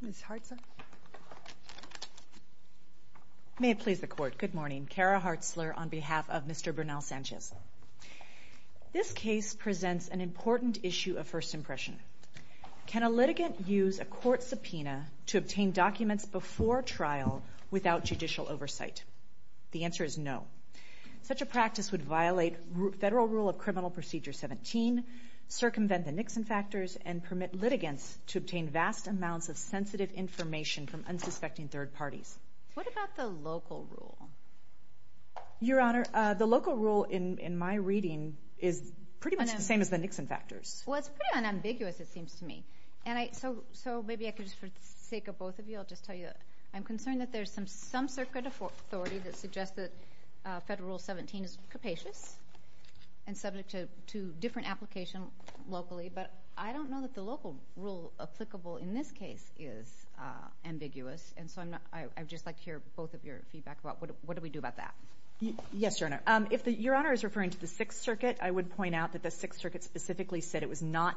Ms. Hartzler. May it please the Court. Good morning. Kara Hartzler on behalf of Mr. Bernal-Sanchez. This case presents an important issue of first impression. Can a litigant use a court subpoena to obtain documents before trial without judicial oversight? The answer is no. Such a practice would violate Federal Rule of Criminal Procedure 17, circumvent the Nixon factors, and permit sensitive information from unsuspecting third parties. What about the local rule? Your Honor, the local rule in my reading is pretty much the same as the Nixon factors. Well, it's pretty unambiguous, it seems to me. So maybe I could, for the sake of both of you, I'll just tell you that I'm concerned that there's some circuit of authority that suggests that Federal Rule 17 is capacious and subject to different application locally, but I don't know that the local rule applicable in this case is ambiguous. And so I'm not — I'd just like to hear both of your feedback about what do we do about that. Yes, Your Honor. If the — Your Honor is referring to the Sixth Circuit, I would point out that the Sixth Circuit specifically said it was not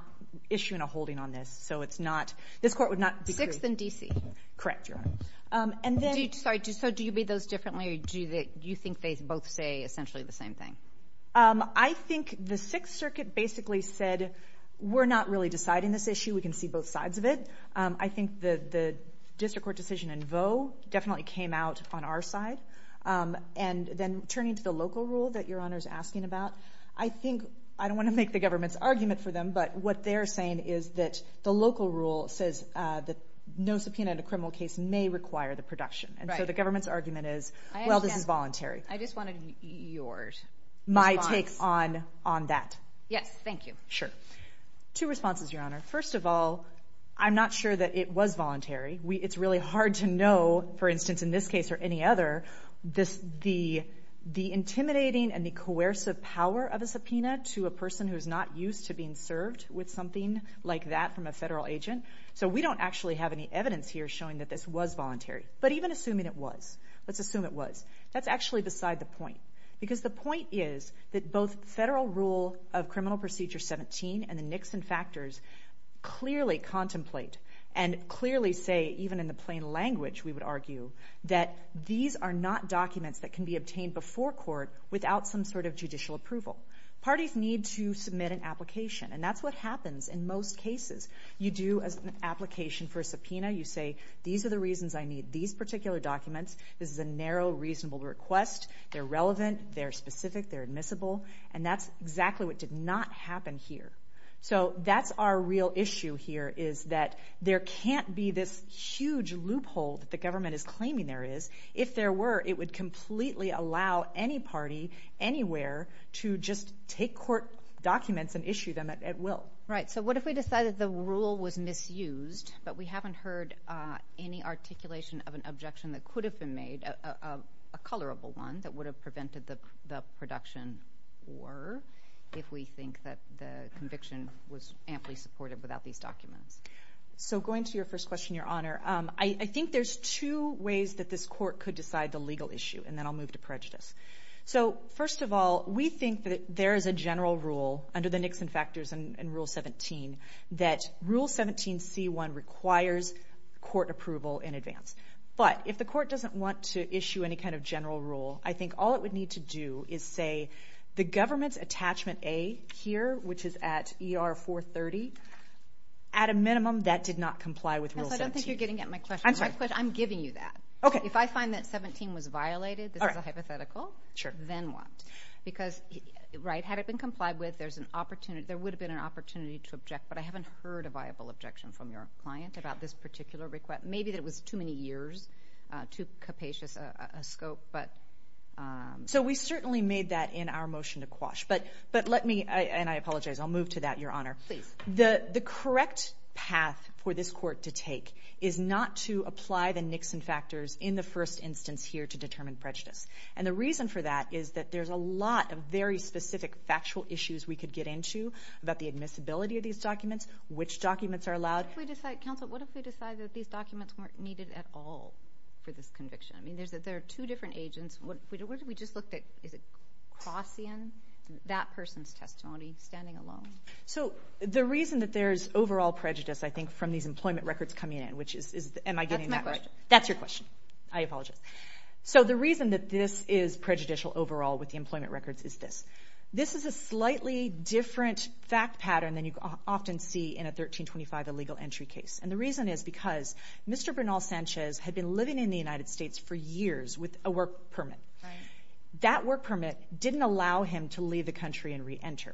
issuing a holding on this. So it's not — this Court would not be — Sixth and D.C. Correct, Your Honor. And then — Sorry, so do you read those differently, or do you think they both say essentially the same thing? I think the Sixth Circuit basically said, we're not really deciding this issue, we can see both sides of it. I think the District Court decision in Vaux definitely came out on our side. And then turning to the local rule that Your Honor's asking about, I think — I don't want to make the government's argument for them, but what they're saying is that the local rule says that no subpoena in a criminal case may require the production. And so the government's argument is, well, this is voluntary. I just wanted your response. My take on that. Yes, thank you. Sure. Two responses, Your Honor. First of all, I'm not sure that it was voluntary. It's really hard to know, for instance, in this case or any other, the intimidating and the coercive power of a subpoena to a person who's not used to being served with something like that from a federal agent. So we don't actually have any evidence here showing that this was voluntary. But even assuming it was, let's assume it was, that's actually beside the point. Because the point is that both federal rule of Criminal Procedure 17 and the Nixon factors clearly contemplate and clearly say, even in the plain language, we would argue, that these are not documents that can be obtained before court without some sort of judicial approval. Parties need to submit an application. And that's what happens in most cases. You do an application for a subpoena. You say, these are the reasons I need these particular documents. This is a narrow, reasonable request. They're relevant. They're specific. They're admissible. And that's exactly what did not happen here. So that's our real issue here, is that there can't be this huge loophole that the government is claiming there is. If there were, it would completely allow any party, anywhere, to just take court documents and issue them at will. Right. So what if we decided the rule was misused, but we haven't heard any articulation of an objection that could have been made, a colorable one, that would have prevented the production? Or if we think that the conviction was amply supported without these documents? So going to your first question, Your Honor, I think there's two ways that this court could decide the legal issue. And then I'll move to prejudice. So first of all, we think that there is a general rule under the Nixon Factors and Rule 17 that Rule 17c1 requires court approval in advance. But if the court doesn't want to issue any kind of general rule, I think all it would need to do is say, the government's attachment A here, which is at ER 430, at a minimum, that did not comply with Rule 17. I don't think you're getting at my question. I'm giving you that. If I find that 17 was right, had it been complied with, there would have been an opportunity to object. But I haven't heard a viable objection from your client about this particular request. Maybe that it was too many years, too capacious a scope. So we certainly made that in our motion to quash. But let me, and I apologize, I'll move to that, Your Honor. Please. The correct path for this court to take is not to apply the Nixon Factors in the first instance here to determine prejudice. And the reason for that is that there's a lot of very specific factual issues we could get into about the admissibility of these documents, which documents are allowed. What if we decide, counsel, what if we decide that these documents weren't needed at all for this conviction? I mean, there are two different agents. What if we just looked at, is it Crossian, that person's testimony, standing alone? So the reason that there's overall prejudice, I think, from these employment records coming in, which is, am I getting that right? That's my question. That's your question. I apologize. So the reason that this is prejudicial overall with the employment records is this. This is a slightly different fact pattern than you often see in a 1325 illegal entry case. And the reason is because Mr. Bernal Sanchez had been living in the United States for years with a work permit. That work permit didn't allow him to leave the country and re-enter.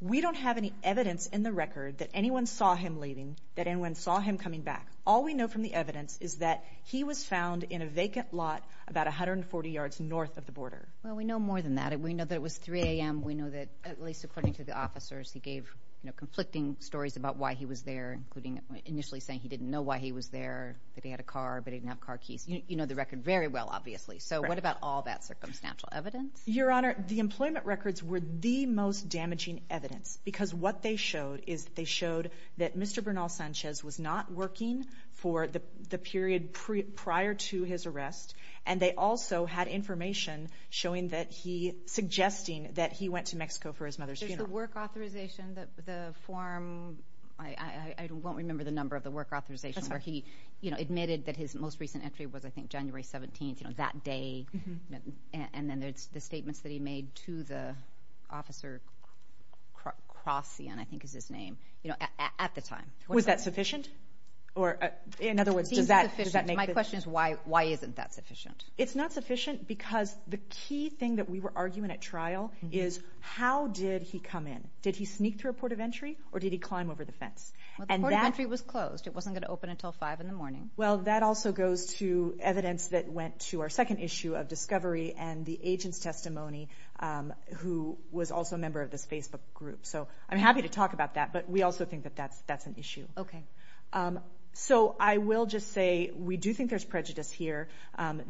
We don't have any evidence in the record that anyone saw him leaving, that anyone saw him coming back. All we know from the evidence is that he was found in a vacant lot about 140 yards north of the border. Well, we know more than that. We know that it was 3 a.m. We know that, at least according to the officers, he gave conflicting stories about why he was there, including initially saying he didn't know why he was there, that he had a car, but he didn't have car keys. You know the record very well, obviously. So what about all that circumstantial evidence? Your Honor, the employment records were the most damaging evidence because what they showed is that they showed that Mr. Bernal Sanchez was not working for the period prior to his arrest, and they also had information showing that he, suggesting that he went to Mexico for his mother's funeral. There's the work authorization, the form, I won't remember the number of the work authorization, where he admitted that his most recent entry was I think January 17th, you know, that day, and then there's the statements that he made to the officer, Crossian I think is his name, you know, at the time. Was that sufficient? Or in other words, does that make the... My question is why isn't that sufficient? It's not sufficient because the key thing that we were arguing at trial is how did he come in? Did he sneak through a port of entry or did he climb over the fence? Well, the port of entry was closed. It wasn't going to open until 5 in the morning. Well, that also goes to evidence that went to our second issue of discovery and the agent's testimony who was also a member of this Facebook group. So I'm happy to talk about that, but we also think that that's an issue. Okay. So I will just say we do think there's prejudice here.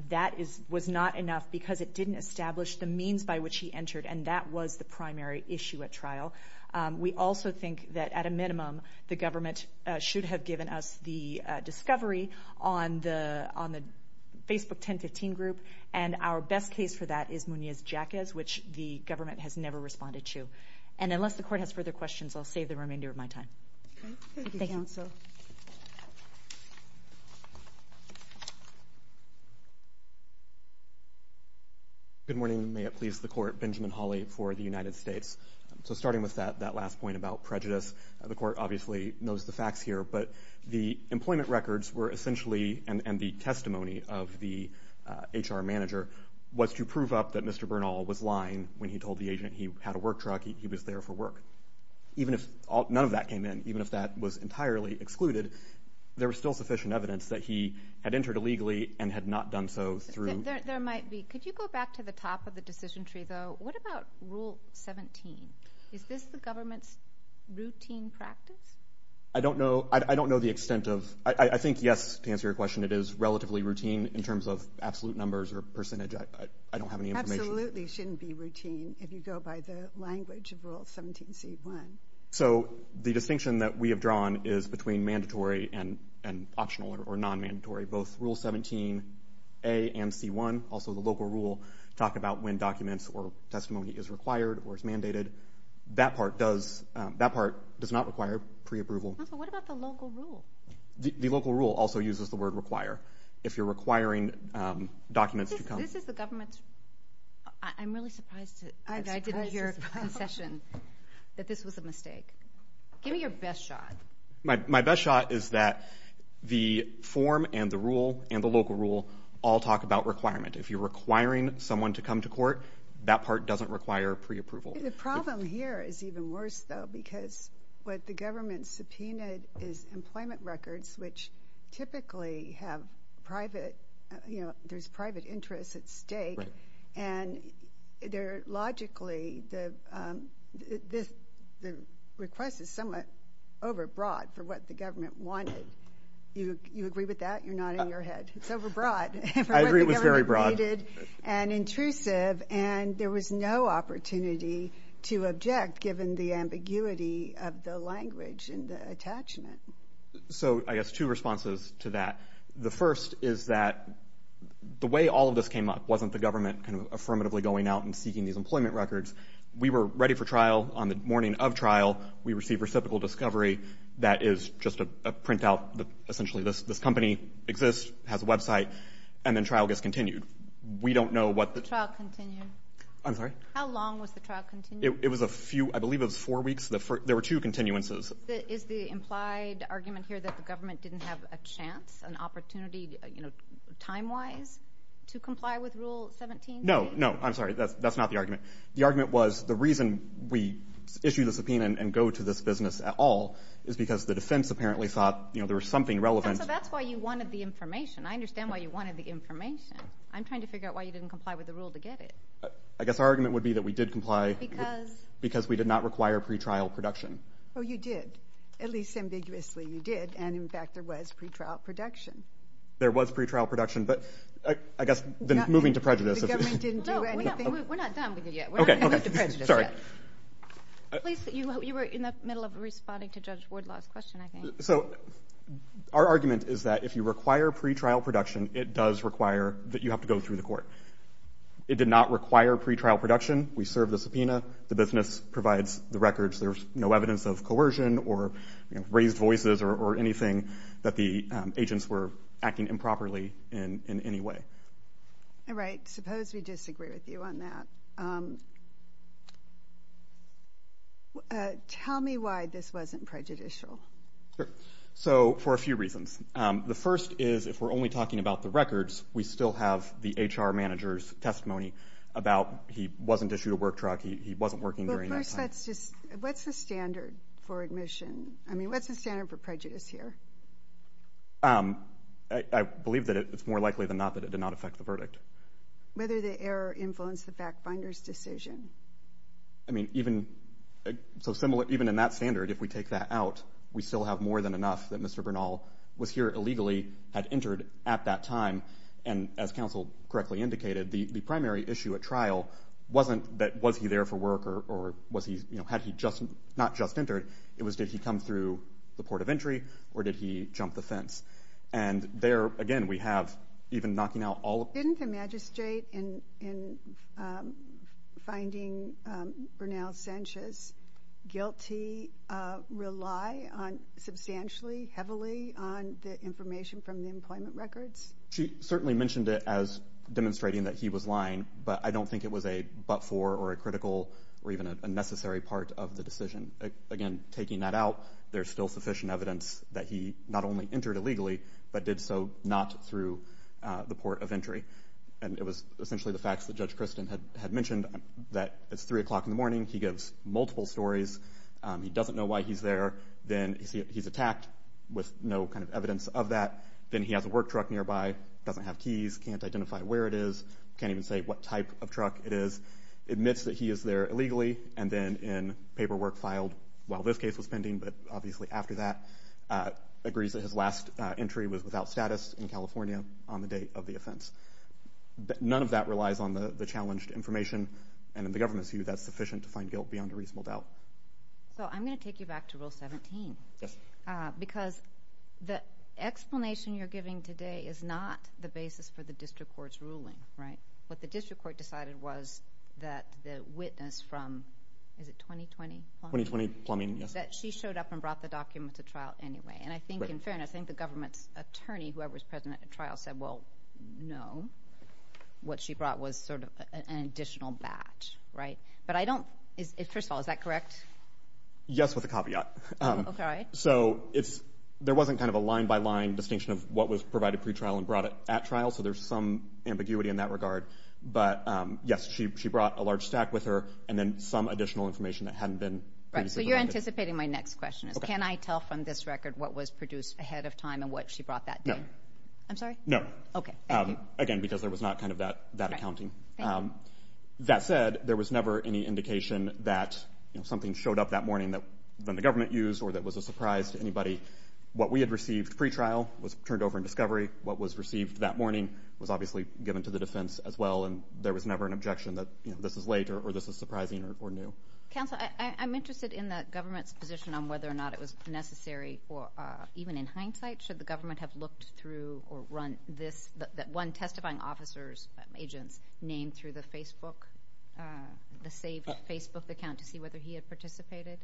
That was not enough because it didn't establish the means by which he entered, and that was the primary issue at trial. We also think that at a minimum, the government should have given us the discovery on the Facebook 1015 group, and our best case for that is Munez-Jacquez, which the government has never responded to. And unless the court has further questions, I'll save the remainder of my time. Okay. Thank you. Thank you, counsel. Good morning. May it please the court. Benjamin Hawley for the United States. So starting with that last point about prejudice, the court obviously knows the facts here, but the employment records were essentially, and the testimony of the HR manager, was to prove up that Mr. Bernal was lying when he told the agent he had a work truck, he was there for work. Even if none of that came in, even if that was entirely excluded, there was still sufficient evidence that he had entered illegally and had not done so through... There might be. Could you go back to the top of the decision tree, though? What about Rule 17? Is this the government's routine practice? I don't know. I don't know the extent of... I think, yes, to answer your question, it is relatively routine in terms of absolute numbers or percentage. I don't have any information. It absolutely shouldn't be routine if you go by the language of Rule 17C1. So the distinction that we have drawn is between mandatory and optional or non-mandatory. Both Rule 17A and C1, also the local rule, talk about when documents or testimony is required or is mandated. That part does not require pre-approval. What about the local rule? The local rule also uses the word require. If you're requiring documents to come... This is the government's... I'm really surprised that I didn't hear a concession that this was a mistake. Give me your best shot. My best shot is that the form and the rule and the local rule all talk about requirement. If you're requiring someone to come to court, that part doesn't require pre-approval. The problem here is even worse, though, because what the government subpoenaed is employment records, which typically have private, you know, there's private interest at stake. And logically, the request is somewhat overbroad for what the government wanted. You agree with that? You're nodding your head. It's overbroad. I agree it was very broad. And intrusive, and there was no opportunity to object, given the ambiguity of the language and the attachment. So I guess two responses to that. The first is that the way all of this came up wasn't the government kind of affirmatively going out and seeking these employment records. We were ready for trial on the morning of trial. We received reciprocal discovery. That is just a printout that essentially this company exists, has a website, and then trial gets continued. We don't know what the... The trial continued? I'm sorry? How long was the trial continued? It was a few... I believe it was four weeks. There were two continuances. Is the implied argument here that the government didn't have a chance, an opportunity, you know, time-wise, to comply with Rule 17? No, no. I'm sorry. That's not the argument. The argument was the reason we issued the subpoena and go to this business at all is because the defense apparently thought, you know, there was something relevant. So that's why you wanted the information. I understand why you wanted the information. I'm trying to figure out why you didn't comply with the rule to get it. I guess our argument would be that we did comply because we did not require pretrial production. Oh, you did. At least, ambiguously, you did. And, in fact, there was pretrial production. There was pretrial production, but I guess then moving to prejudice... The government didn't do anything... No, we're not done with you yet. We're not going to move to prejudice yet. Sorry. At least you were in the middle of responding to Judge Wardlaw's question, I think. So our argument is that if you require pretrial production, it does require that you have to go through the court. It did not require pretrial production. We served the subpoena. The business provides the records. There's no evidence of coercion or raised voices or anything that the agents were acting improperly in any way. All right. Suppose we disagree with you on that. Tell me why this wasn't prejudicial. So for a few reasons. The first is, if we're only talking about the records, we still have the HR manager's testimony about he wasn't issued a work truck, he wasn't working during that time. But first, what's the standard for admission? I mean, what's the standard for prejudice here? I believe that it's more likely than not that it did not affect the verdict. Whether the error influenced the fact finder's decision? I mean, even in that standard, if we take that out, we still have more than enough that And as counsel correctly indicated, the primary issue at trial wasn't that was he there for work or had he not just entered. It was did he come through the port of entry or did he jump the fence? And there, again, we have even knocking out all of... Didn't the magistrate in finding Bernal Sanchez guilty rely on substantially, heavily, on the information from the employment records? She certainly mentioned it as demonstrating that he was lying, but I don't think it was a but-for or a critical or even a necessary part of the decision. Again, taking that out, there's still sufficient evidence that he not only entered illegally, but did so not through the port of entry. And it was essentially the facts that Judge Christin had mentioned, that it's three o'clock in the morning, he gives multiple stories, he doesn't know why he's there, then he's doesn't have keys, can't identify where it is, can't even say what type of truck it is, admits that he is there illegally, and then in paperwork filed while this case was pending, but obviously after that, agrees that his last entry was without status in California on the date of the offense. None of that relies on the challenged information, and in the government's view, that's sufficient to find guilt beyond a reasonable doubt. So I'm going to take you back to Rule 17. Yes. Because the explanation you're giving today is not the basis for the district court's ruling, right? What the district court decided was that the witness from, is it 2020 Plumbing? 2020 Plumbing, yes. That she showed up and brought the document to trial anyway, and I think in fairness, I think the government's attorney, whoever was present at the trial, said, well, no. What she brought was sort of an additional batch, right? Yes with a caveat. Okay. So there wasn't kind of a line-by-line distinction of what was provided pre-trial and brought it at trial, so there's some ambiguity in that regard, but yes, she brought a large stack with her, and then some additional information that hadn't been. Right. So you're anticipating my next question is, can I tell from this record what was produced ahead of time and what she brought that day? No. I'm sorry? No. Okay. Thank you. Again, because there was not kind of that accounting. That said, there was never any indication that something showed up that morning that the government used or that was a surprise to anybody. What we had received pre-trial was turned over in discovery. What was received that morning was obviously given to the defense as well, and there was never an objection that, you know, this is late or this is surprising or new. Counsel, I'm interested in the government's position on whether or not it was necessary or even in hindsight, should the government have looked through or run this, that one testifying officer's agents named through the Facebook, the saved Facebook account to see whether he had participated?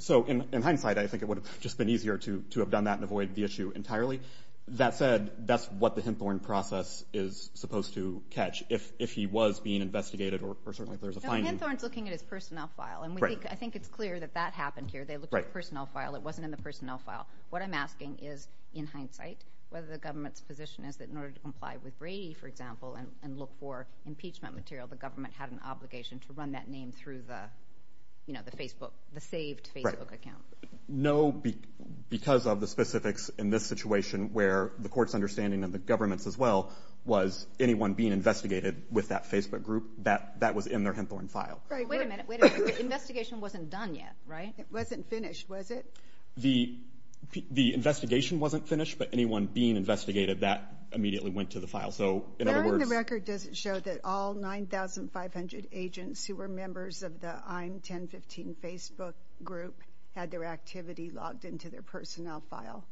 So in hindsight, I think it would have just been easier to have done that and avoid the issue entirely. That said, that's what the Hinthorn process is supposed to catch. If he was being investigated or certainly if there's a finding. So Hinthorn's looking at his personnel file, and I think it's clear that that happened here. They looked at the personnel file. It wasn't in the personnel file. What I'm asking is, in hindsight, whether the government's position is that in order to comply with Brady, for example, and look for impeachment material, the government had an obligation to run that name through the, you know, the Facebook, the saved Facebook account. Right. No, because of the specifics in this situation where the court's understanding of the government's as well was anyone being investigated with that Facebook group, that was in their Hinthorn file. Right. Wait a minute. Wait a minute. The investigation wasn't done yet, right? It wasn't finished, was it? The investigation wasn't finished, but anyone being investigated, that immediately went to the file. So, in other words... There in the record, does it show that all 9,500 agents who were members of the I'm 1015 Facebook group had their activity logged into their personnel file?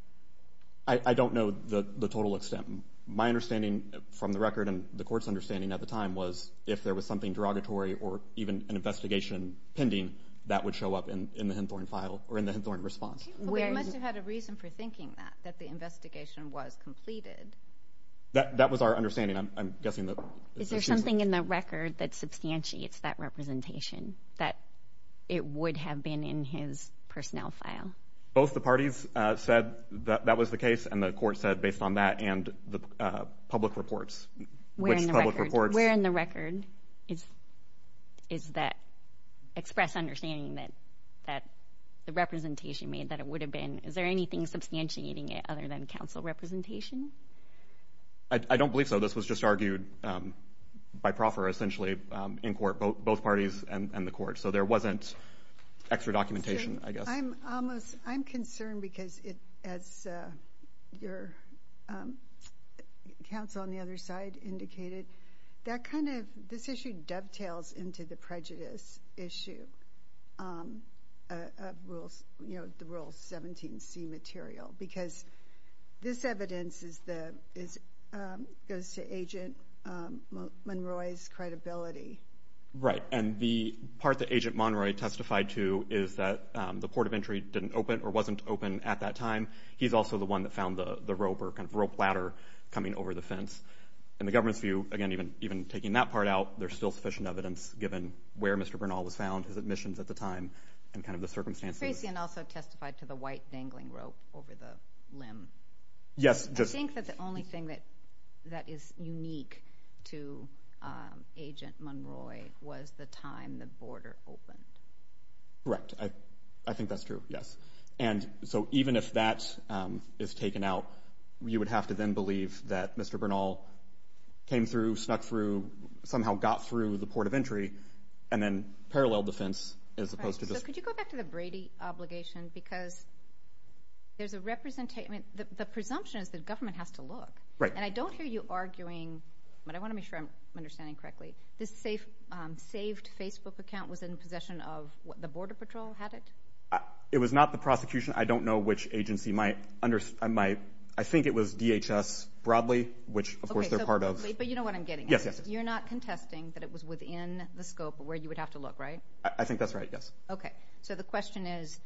I don't know the total extent. My understanding from the record and the court's understanding at the time was if there was something derogatory or even an investigation pending, that would show up in the Hinthorn file or in the Hinthorn response. But we must have had a reason for thinking that, that the investigation was completed. That was our understanding. I'm guessing that... Is there something in the record that substantiates that representation, that it would have been in his personnel file? Both the parties said that that was the case, and the court said based on that and the public reports, which public reports... Where in the record is that express understanding that the representation made that it would have been? Is there anything substantiating it other than council representation? I don't believe so. This was just argued by proffer essentially in court, both parties and the court. So there wasn't extra documentation, I guess. I'm concerned because as your counsel on the other side indicated, that kind of... And the part that Agent Monroy testified to is that the port of entry didn't open or wasn't open at that time. He's also the one that found the rope or kind of rope ladder coming over the fence. In the government's view, again, even taking that part out, there's still sufficient evidence given where Mr. Bernal was found, his admissions at the time, and kind of the circumstances. Tracy also testified to the white dangling rope over the limb. Yes. I think that the only thing that is unique to Agent Monroy was the time the border opened. Correct. I think that's true, yes. And so even if that is taken out, you would have to then believe that Mr. Bernal came through, snuck through, somehow got through the port of entry, and then parallel defense as opposed to just... Right. So could you go back to the Brady obligation? Because there's a representation... The presumption is that government has to look. Right. And I don't hear you arguing, but I want to make sure I'm understanding correctly, this saved Facebook account was in possession of... The Border Patrol had it? It was not the prosecution. I don't know which agency might... I think it was DHS, broadly, which of course they're part of. But you know what I'm getting at? Yes, yes. You're not contesting that it was within the scope of where you would have to look, right? I think that's right, yes. Okay. So the question is,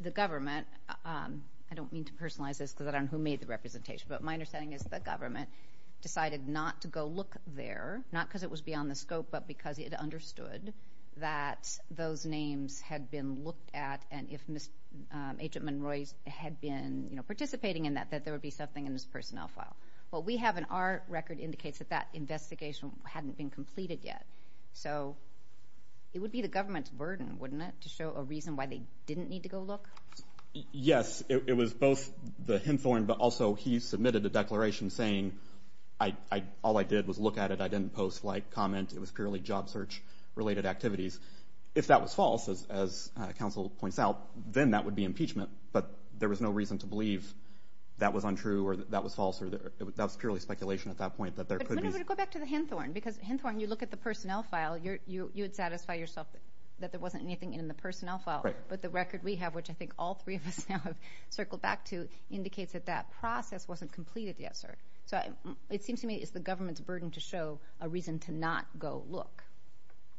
the government, I don't mean to personalize this because I don't know who made the representation, but my understanding is the government decided not to go look there, not because it was beyond the scope, but because it understood that those names had been looked at and if Agent Monroy had been participating in that, that there would be something in his personnel file. What we have in our record indicates that that investigation hadn't been completed yet. So it would be the government's burden, wouldn't it, to show a reason why they didn't need to go look? Yes. It was both the Hinthorn, but also he submitted a declaration saying, all I did was look at it, I didn't post, like, comment, it was purely job search-related activities. If that was false, as counsel points out, then that would be impeachment. But there was no reason to believe that was untrue or that was false, that was purely speculation at that point. But go back to the Hinthorn, because Hinthorn, you look at the personnel file, you would satisfy yourself that there wasn't anything in the personnel file, but the record we have, which I think all three of us now have circled back to, indicates that that process wasn't completed yet, sir. So it seems to me it's the government's burden to show a reason to not go look.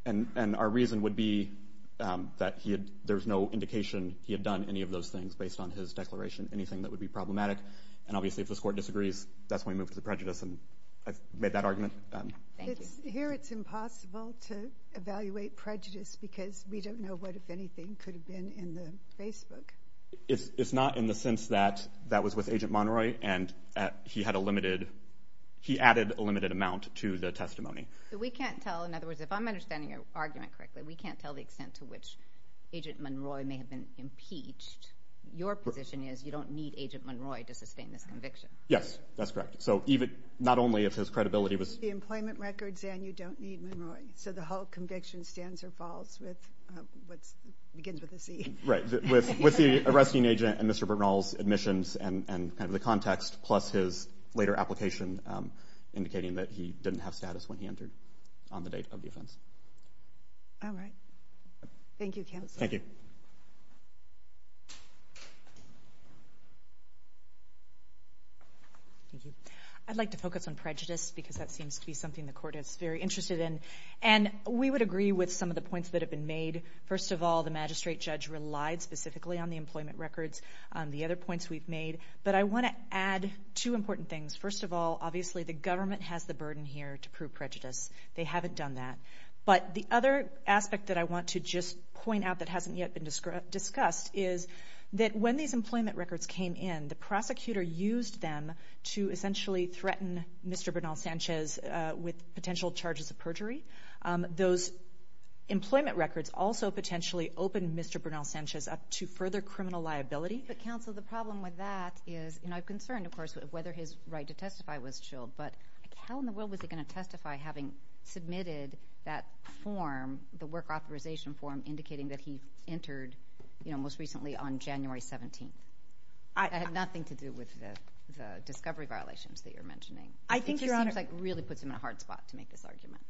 And our reason would be that there's no indication he had done any of those things based on his declaration, anything that would be problematic. And obviously if this Court disagrees, that's when we move to the prejudice, and I've made that argument. Thank you. Here it's impossible to evaluate prejudice, because we don't know what, if anything, could have been in the Facebook. It's not in the sense that that was with Agent Monroy, and he had a limited, he added a limited amount to the testimony. So we can't tell, in other words, if I'm understanding your argument correctly, we can't tell the extent to which Agent Monroy may have been impeached. Your position is you don't need Agent Monroy to sustain this conviction. Yes, that's correct. So even, not only if his credibility was... The employment records and you don't need Monroy. So the whole conviction stands or falls with what begins with a C. Right. With the arresting agent and Mr. Bernal's admissions and kind of the context, plus his later application indicating that he didn't have status when he entered on the date of the offense. All right. Thank you, Counsel. Thank you. Thank you. I'd like to focus on prejudice, because that seems to be something the Court is very interested in. And we would agree with some of the points that have been made. First of all, the magistrate judge relied specifically on the employment records, on the other points we've made. But I want to add two important things. First of all, obviously, the government has the burden here to prove prejudice. They haven't done that. But the other aspect that I want to just point out that hasn't yet been discussed is that when these employment records came in, the prosecutor used them to essentially threaten Mr. Bernal Sanchez with potential charges of perjury. Those employment records also potentially opened Mr. Bernal Sanchez up to further criminal liability. But, Counsel, the problem with that is, and I'm concerned, of course, whether his right to testify was chilled, but how in the world was he going to testify having submitted that form, the work authorization form, indicating that he entered, you know, most recently on January 17th? It had nothing to do with the discovery violations that you're mentioning. I think, Your Honor— It just seems like it really puts him in a hard spot to make this argument.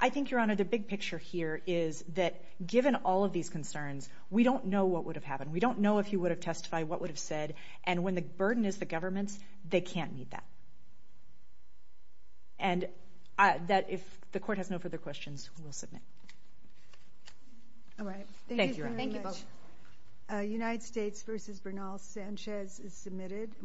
I think, Your Honor, the big picture here is that given all of these concerns, we don't know what would have happened. We don't know if he would have testified, what would have been said. And when the burden is the government's, they can't meet that. And that, if the Court has no further questions, we'll submit. All right. Thank you very much. Thank you, Your Honor. Thank you both. United States v. Bernal Sanchez is submitted.